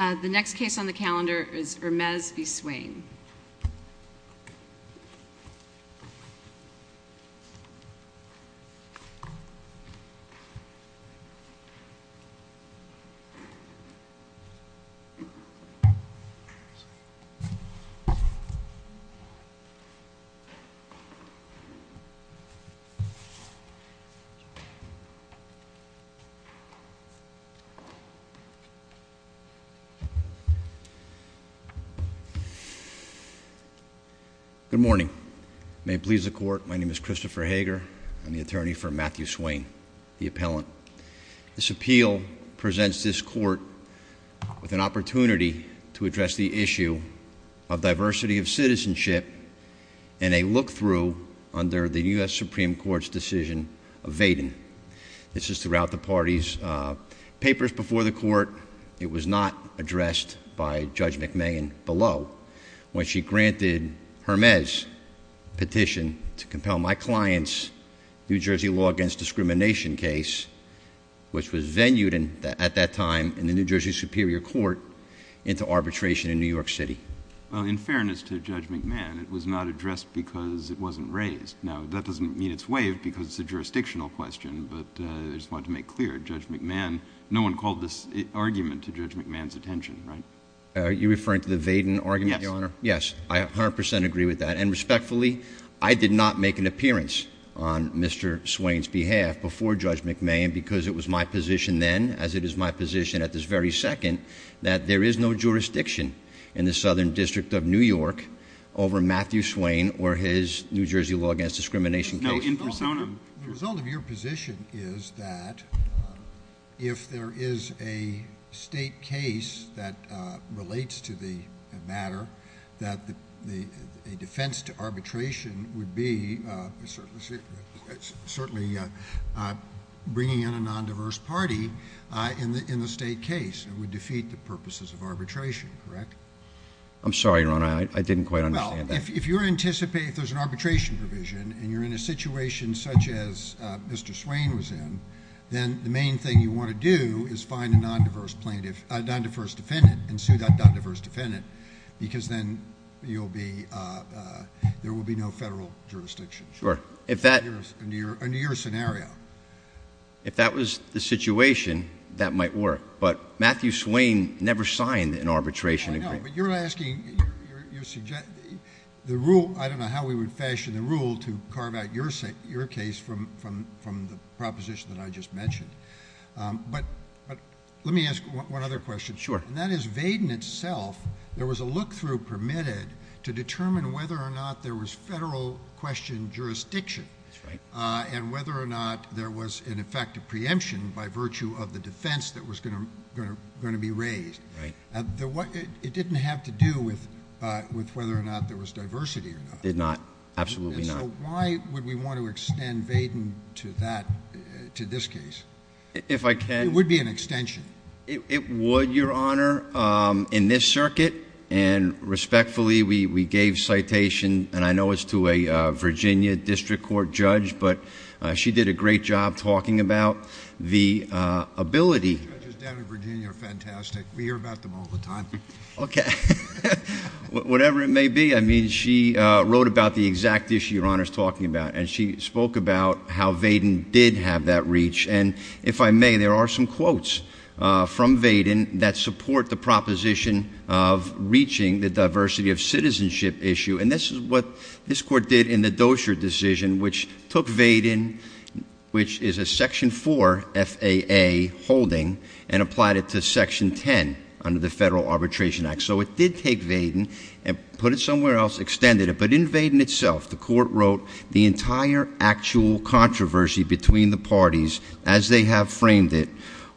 The next case on the calendar is Hermes v. Swain. Good morning. May it please the court, my name is Christopher Hager. I'm the attorney for Matthew Swain, the appellant. This appeal presents this court with an opportunity to address the issue of diversity of citizenship and a look-through under the U.S. Supreme Court's decision of Vaden. This is throughout the party's papers before the court. It was not addressed by Judge McMahon below, when she granted Hermes' petition to compel my client's New Jersey law against discrimination case, which was venued at that time in the New Jersey Superior Court, into arbitration in New York City. Well, in fairness to Judge McMahon, it was not addressed because it wasn't raised. Now, that doesn't mean it's waived because it's a jurisdictional question, but I just wanted to make clear, Judge McMahon, no one called this argument to Judge McMahon's attention, right? Are you referring to the Vaden argument, Your Honor? Yes. Yes. I 100 percent agree with that. And respectfully, I did not make an appearance on Mr. Swain's behalf before Judge McMahon because it was my position then, as it is my position at this very second, that there is no jurisdiction in the Southern District of New York over Matthew Swain or his New Jersey law against discrimination case. No, in persona. The result of your position is that if there is a state case that relates to the matter, that a defense to arbitration would be certainly bringing in a nondiverse party in the state case and would defeat the purposes of arbitration, correct? I'm sorry, Your Honor. I didn't quite understand that. If you anticipate there's an arbitration provision and you're in a situation such as Mr. Swain was in, then the main thing you want to do is find a nondiverse plaintiff — a nondiverse defendant and sue that nondiverse defendant because then there will be no federal jurisdiction. Sure. Under your scenario. If that was the situation, that might work, but Matthew Swain never signed an arbitration agreement. I know, but you're asking — I don't know how we would fashion the rule to carve out your case from the proposition that I just mentioned. But let me ask one other question. Sure. And that is, Vaden itself, there was a look-through permitted to determine whether or not there was federal question jurisdiction and whether or not there was an effective preemption by virtue of the defense that was going to be raised. Right. And it didn't have to do with whether or not there was diversity or not. Did not. Absolutely not. And so why would we want to extend Vaden to that — to this case? If I can — It would be an extension. It would, Your Honor. In this circuit, and respectfully, we gave citation, and I know it's to a Virginia District Court judge, but she did a great job talking about the ability — Okay. Whatever it may be, I mean, she wrote about the exact issue Your Honor is talking about, and she spoke about how Vaden did have that reach. And if I may, there are some quotes from Vaden that support the proposition of reaching the diversity of citizenship issue. And this is what this Court did in the Dozier decision, which took Vaden, which is a Section 4 FAA holding, and applied it to Section 10 under the Federal Arbitration Act. So it did take Vaden and put it somewhere else, extended it. But in Vaden itself, the Court wrote the entire actual controversy between the parties, as they have framed it,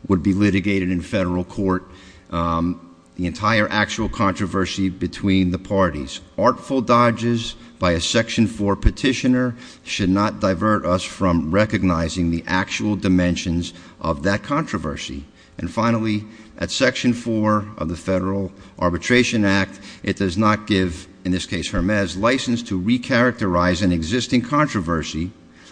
would be litigated in federal court. The entire actual controversy between the parties. Artful dodges by a Section 4 petitioner should not divert us from recognizing the actual dimensions of that controversy. And finally, at Section 4 of the Federal Arbitration Act, it does not give, in this case, Hermes, license to recharacterize an existing controversy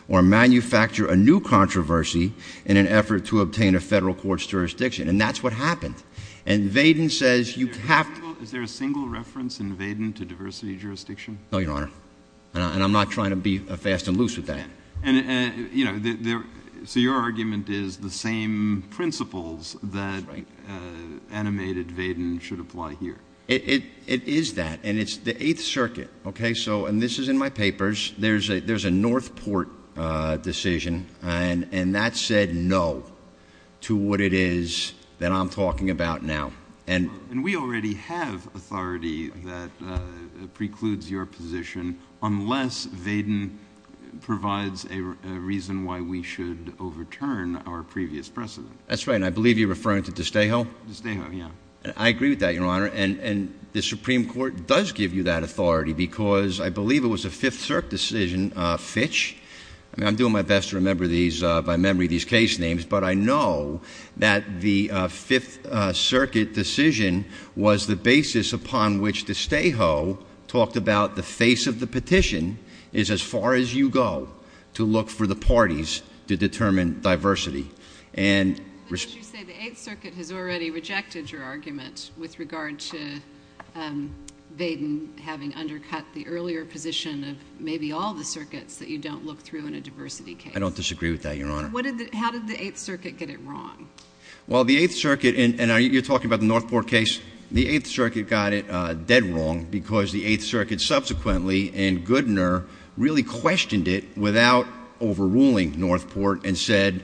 or manufacture a new controversy in an effort to obtain a federal court's jurisdiction. And that's what happened. And Vaden says you have — Is there a single reference in Vaden to diversity jurisdiction? No, Your Honor. And I'm not trying to be fast and loose with that. And, you know, so your argument is the same principles that animated Vaden should apply here. It is that. And it's the Eighth Circuit. Okay? So — and this is in my papers. There's a North Port decision. And that said no to what it is that I'm talking about now. And we already have authority that precludes your position unless Vaden provides a reason why we should overturn our previous precedent. That's right. And I believe you're referring to DeStejo? DeStejo, yeah. I agree with that, Your Honor. And the Supreme Court does give you that authority because I believe it was a Fifth Circuit decision, Fitch. I mean, I'm doing my best to remember these — by memory these case names. But I know that the Fifth Circuit decision was the basis upon which DeStejo talked about the face of the petition is as far as you go to look for the parties to determine diversity. And — But as you say, the Eighth Circuit has already rejected your argument with regard to Vaden having undercut the earlier position of maybe all the circuits that you don't look through in a diversity case. I don't disagree with that, Your Honor. And what did — how did the Eighth Circuit get it wrong? Well, the Eighth Circuit — and you're talking about the North Port case — the Eighth Circuit got it dead wrong because the Eighth Circuit subsequently and Goodner really questioned it without overruling North Port and said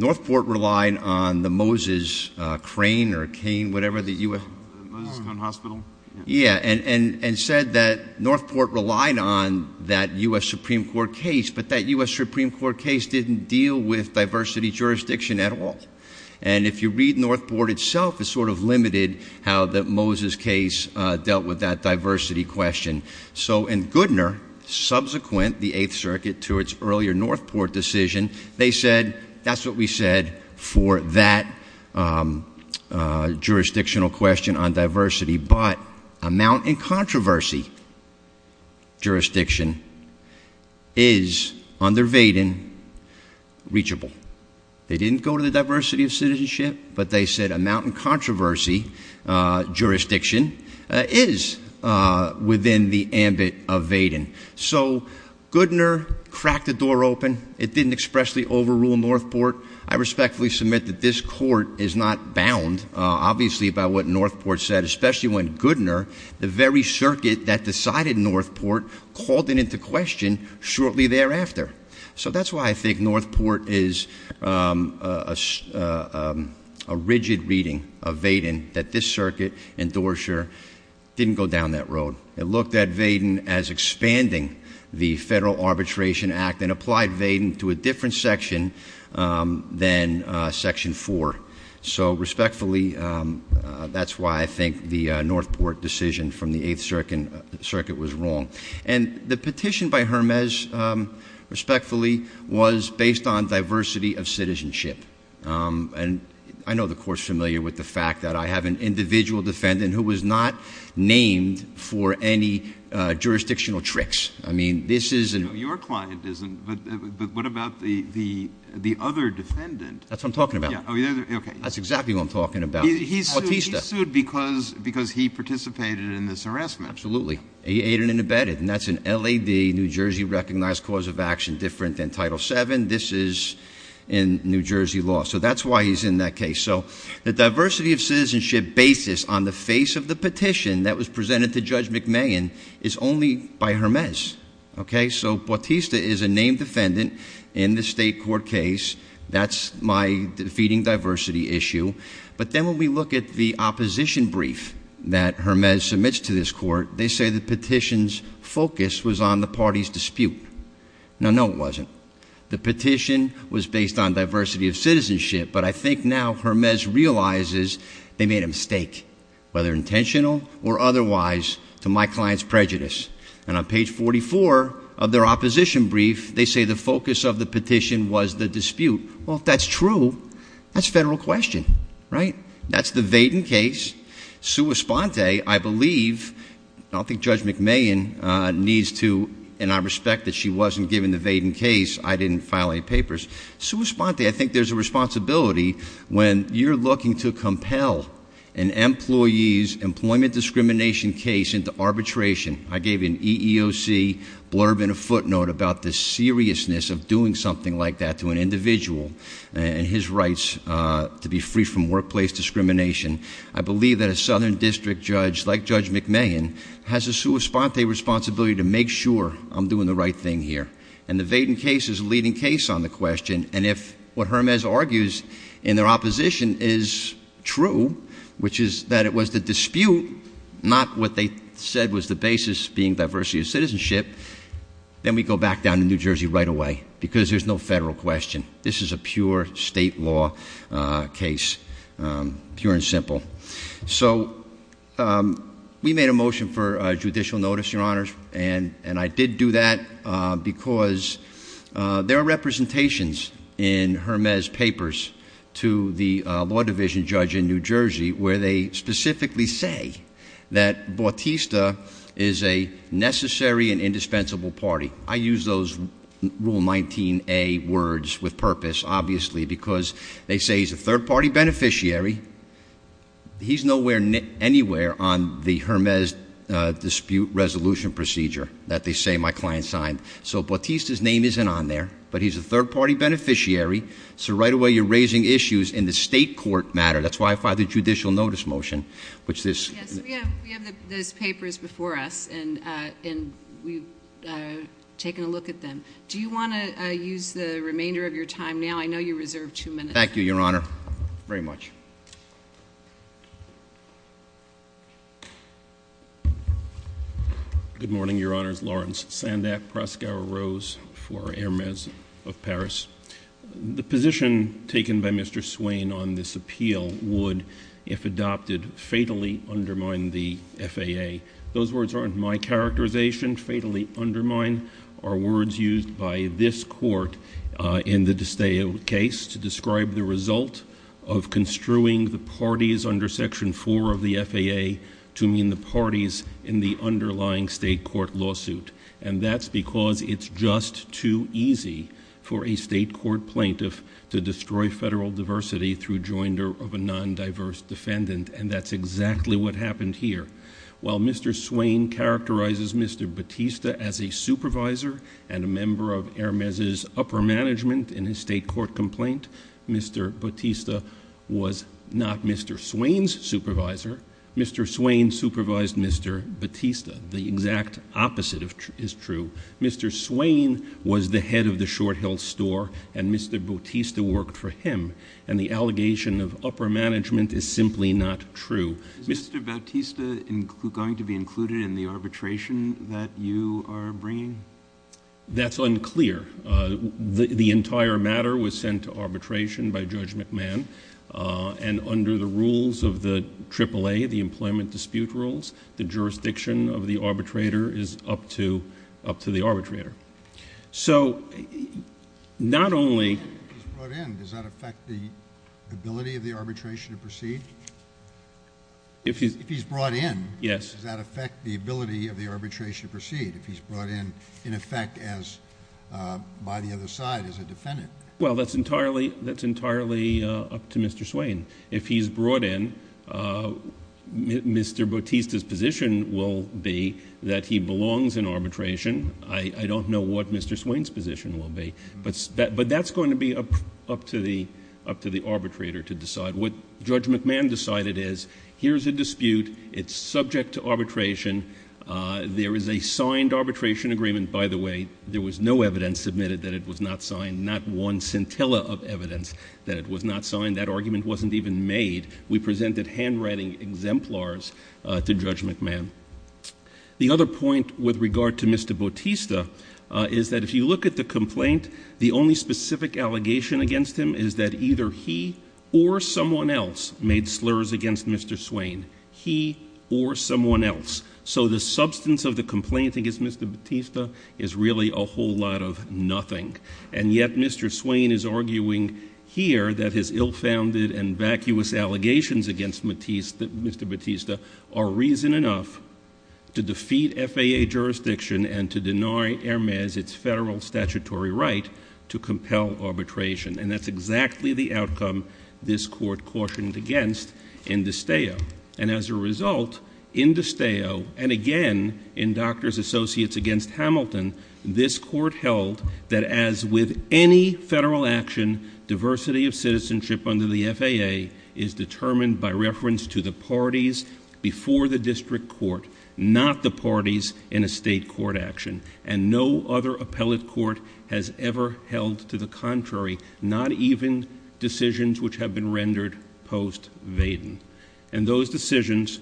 North Port relied on the Moses Crane or cane, whatever the U.S. — The Moses Crane Hospital? Yeah. And said that North Port relied on that U.S. Supreme Court case. But that U.S. Supreme Court case didn't deal with diversity jurisdiction at all. And if you read North Port itself, it's sort of limited how the Moses case dealt with that diversity question. So in Goodner, subsequent the Eighth Circuit to its earlier North Port decision, they said that's what we said for that jurisdictional question on diversity. But amount in controversy jurisdiction is, under Vaden, reachable. They didn't go to the diversity of citizenship, but they said amount in controversy jurisdiction is within the ambit of Vaden. So Goodner cracked the door open. It didn't expressly overrule North Port. I respectfully submit that this Court is not bound, obviously, by what North Port said, especially when Goodner, the very circuit that decided North Port, called it into question shortly thereafter. So that's why I think North Port is a rigid reading of Vaden, that this circuit and Doerscher didn't go down that road. It looked at Vaden as expanding the Federal Arbitration Act and applied Vaden to a different section than Section 4. So respectfully, that's why I think the North Port decision from the Eighth Circuit was wrong. And the petition by Hermes, respectfully, was based on diversity of citizenship. And I know the Court's familiar with the fact that I have an individual defendant who was not named for any jurisdictional tricks. I mean, this isn't Your client isn't. But what about the other defendant? That's what I'm talking about. Oh, yeah. Okay. That's exactly what I'm talking about. He's sued because he participated in this harassment. Absolutely. He aided and abetted. And that's an LAD, New Jersey Recognized Cause of Action, different than Title VII. This is in New Jersey law. So that's why he's in that case. So the diversity of citizenship basis on the face of the petition that was presented to Judge McMahon is only by Hermes. Okay? So Bautista is a named defendant in the State Court case. That's my feeding diversity issue. But then when we look at the opposition brief that Hermes submits to this court, they say the petition's focus was on the party's dispute. Now, no, it wasn't. The petition was based on diversity of citizenship. But I think now Hermes realizes they made a mistake, whether intentional or otherwise, to my client's prejudice. And on page 44 of their That's a federal question, right? That's the Vaden case. Sua Sponte, I believe, I don't think Judge McMahon needs to, and I respect that she wasn't given the Vaden case. I didn't file any papers. Sua Sponte, I think there's a responsibility when you're looking to compel an employee's employment discrimination case into arbitration. I gave an EEOC blurb and a footnote about the to be free from workplace discrimination. I believe that a southern district judge like Judge McMahon has a Sua Sponte responsibility to make sure I'm doing the right thing here. And the Vaden case is a leading case on the question. And if what Hermes argues in their opposition is true, which is that it was the dispute, not what they said was the basis, being diversity of citizenship, then we go back down to New Jersey right away, because there's no federal question. This is a pure state law case, pure and simple. So we made a motion for judicial notice, Your Honors, and I did do that because there are representations in Hermes papers to the law division judge in New Jersey where they specifically say that Bautista is a necessary and indispensable party. I use those Rule 19A words with purpose, obviously, because they say he's a third party beneficiary. He's nowhere, anywhere on the Hermes dispute resolution procedure that they say my client signed. So Bautista's name isn't on there, but he's a third party beneficiary. So right away, you're raising issues in the state court matter. That's why I filed a judicial notice motion, which this- Yes, we have those papers before us, and we've taken a look at them. Do you want to use the remainder of your time now? I know you reserved two minutes. Thank you, Your Honor. Very much. Good morning, Your Honors. Lawrence Sandak, Proscauer Rose for Hermes of Paris. The position taken by Mr. Swain on this appeal would, if adopted, fatally undermine the FAA. Those words aren't my characterization. Fatally undermine are words used by this court in the DiSteo case to describe the result of construing the parties under Section 4 of the FAA to mean the parties in the underlying state court lawsuit. That's because it's just too easy for a state court plaintiff to destroy federal diversity through joinder of a non-diverse defendant, and that's exactly what happened here. While Mr. Swain characterizes Mr. Bautista as a supervisor and a member of Hermes' upper management in his state court complaint, Mr. Bautista was not Mr. Swain's supervisor. Mr. Swain supervised Mr. Bautista. The exact opposite is true. Mr. Swain was the head of the Short Hill store, and Mr. Bautista worked for him, and the allegation of upper management is simply not true. Is Mr. Bautista going to be included in the arbitration that you are bringing? That's unclear. The entire matter was sent to arbitration by Judge McMahon, and under the rules of the AAA, the employment dispute rules, the jurisdiction of the arbitrator is up to the arbitrator. If he's brought in, does that affect the ability of the arbitration to proceed? If he's brought in, in effect, by the other side as a defendant? That's entirely up Mr. Swain. If he's brought in, Mr. Bautista's position will be that he belongs in arbitration. I don't know what Mr. Swain's position will be, but that's going to be up to the arbitrator to decide. What Judge McMahon decided is, here's a dispute. It's subject to arbitration. There is a signed arbitration agreement. By the way, there was no evidence submitted that it was not signed, not one scintilla of evidence that it was not signed. That argument wasn't even made. We presented handwriting exemplars to Judge McMahon. The other point with regard to Mr. Bautista is that if you look at the complaint, the only specific allegation against him is that either he or someone else made slurs against Mr. Swain. He or someone else. So the substance of the complaint against Mr. Bautista is really a whole lot of nothing. And yet, Mr. Swain is arguing here that his ill-founded and vacuous allegations against Mr. Bautista are reason enough to defeat FAA jurisdiction and to deny Hermes its federal statutory right to compel arbitration. And that's exactly the outcome this Court cautioned against in d'Esteo. And as a doctor's associates against Hamilton, this Court held that as with any federal action, diversity of citizenship under the FAA is determined by reference to the parties before the district court, not the parties in a state court action. And no other appellate court has ever held to the contrary, not even decisions which have been rendered post-Vaden. And those decisions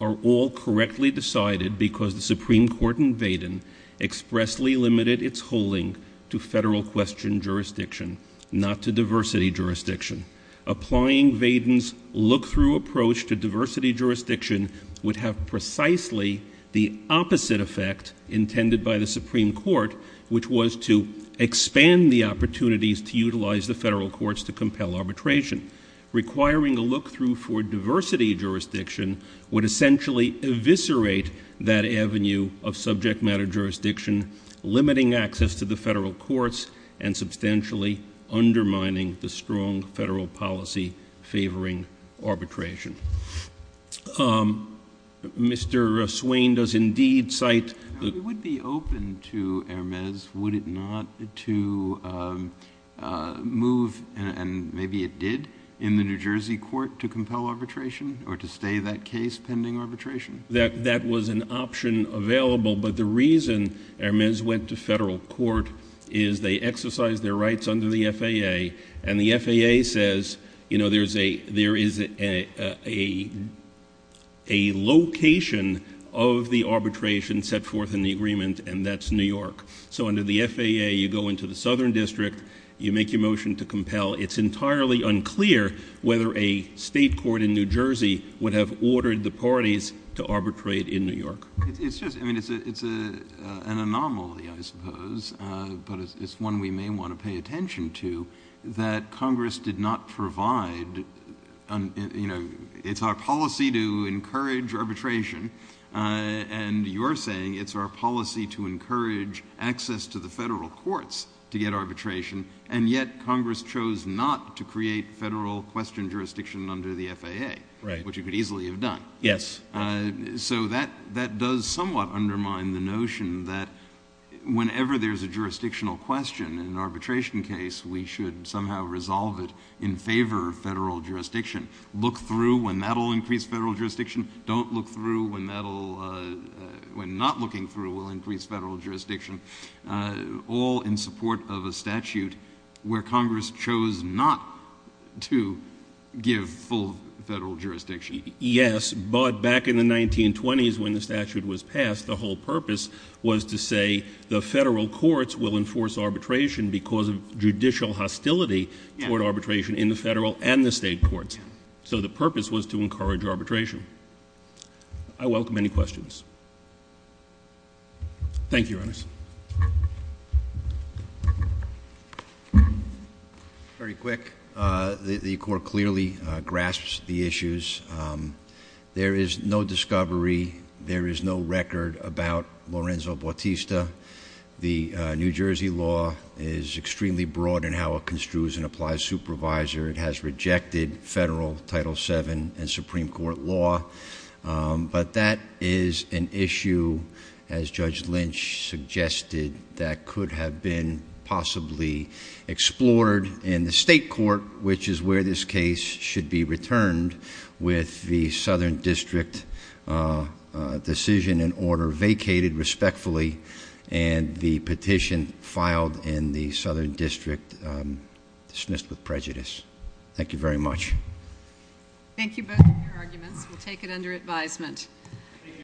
are all correctly decided because the Supreme Court in Vaden expressly limited its holding to federal question jurisdiction, not to diversity jurisdiction. Applying Vaden's look-through approach to diversity jurisdiction would have precisely the opposite effect intended by the Supreme Court, which was to expand the opportunities to utilize the federal courts to compel arbitration. Requiring a look-through for diversity jurisdiction would essentially eviscerate that avenue of subject matter jurisdiction, limiting access to the federal courts and substantially undermining the strong federal policy favoring arbitration. Mr. Swain does indeed cite the- If it would be open to Hermes, would it not to move, and maybe it did, in the New Jersey Court to compel arbitration or to stay that case pending arbitration? That was an option available, but the reason Hermes went to federal court is they exercised their rights under the FAA, and the FAA says, you know, there is a location of the arbitration set forth in the agreement, and that's New York. So under the FAA, you go into the Southern District, you make your motion to compel. It's entirely unclear whether a state court in New Jersey would have ordered the parties to arbitrate in New York. It's just, I mean, it's an anomaly, I suppose, but it's one we may want to pay attention to, that Congress did not provide, you know, it's our policy to encourage arbitration, and you're saying it's our policy to encourage access to the federal courts to get arbitration, and yet Congress chose not to create federal question jurisdiction under the FAA, which you could easily have done. Yes. So that does somewhat undermine the notion that whenever there's a jurisdictional question in an arbitration case, we should somehow resolve it in favor of federal jurisdiction, look through when that will increase federal jurisdiction, don't look through when not looking through will increase federal jurisdiction, all in support of a statute where Congress chose not to give full federal jurisdiction. Yes, but back in the 1920s when the statute was passed, the whole purpose was to say the federal courts will enforce arbitration because of judicial hostility toward arbitration in the federal and the state courts. So the purpose was to encourage arbitration. I welcome any questions. Thank you, Your Honors. Very quick, the court clearly grasps the issues. There is no discovery, there is no record about Lorenzo Bautista. The New Jersey law is extremely broad in how it construes and applies supervisor. It has rejected federal Title VII and Supreme Court law, but that is an issue, as Judge Lynch suggested, that could have been possibly explored in the state court, which is where this case should be returned with the Southern District decision in order vacated respectfully, and the petition filed in the Southern District dismissed with prejudice. Thank you very much. Thank you both for your arguments. We'll take it under advisement.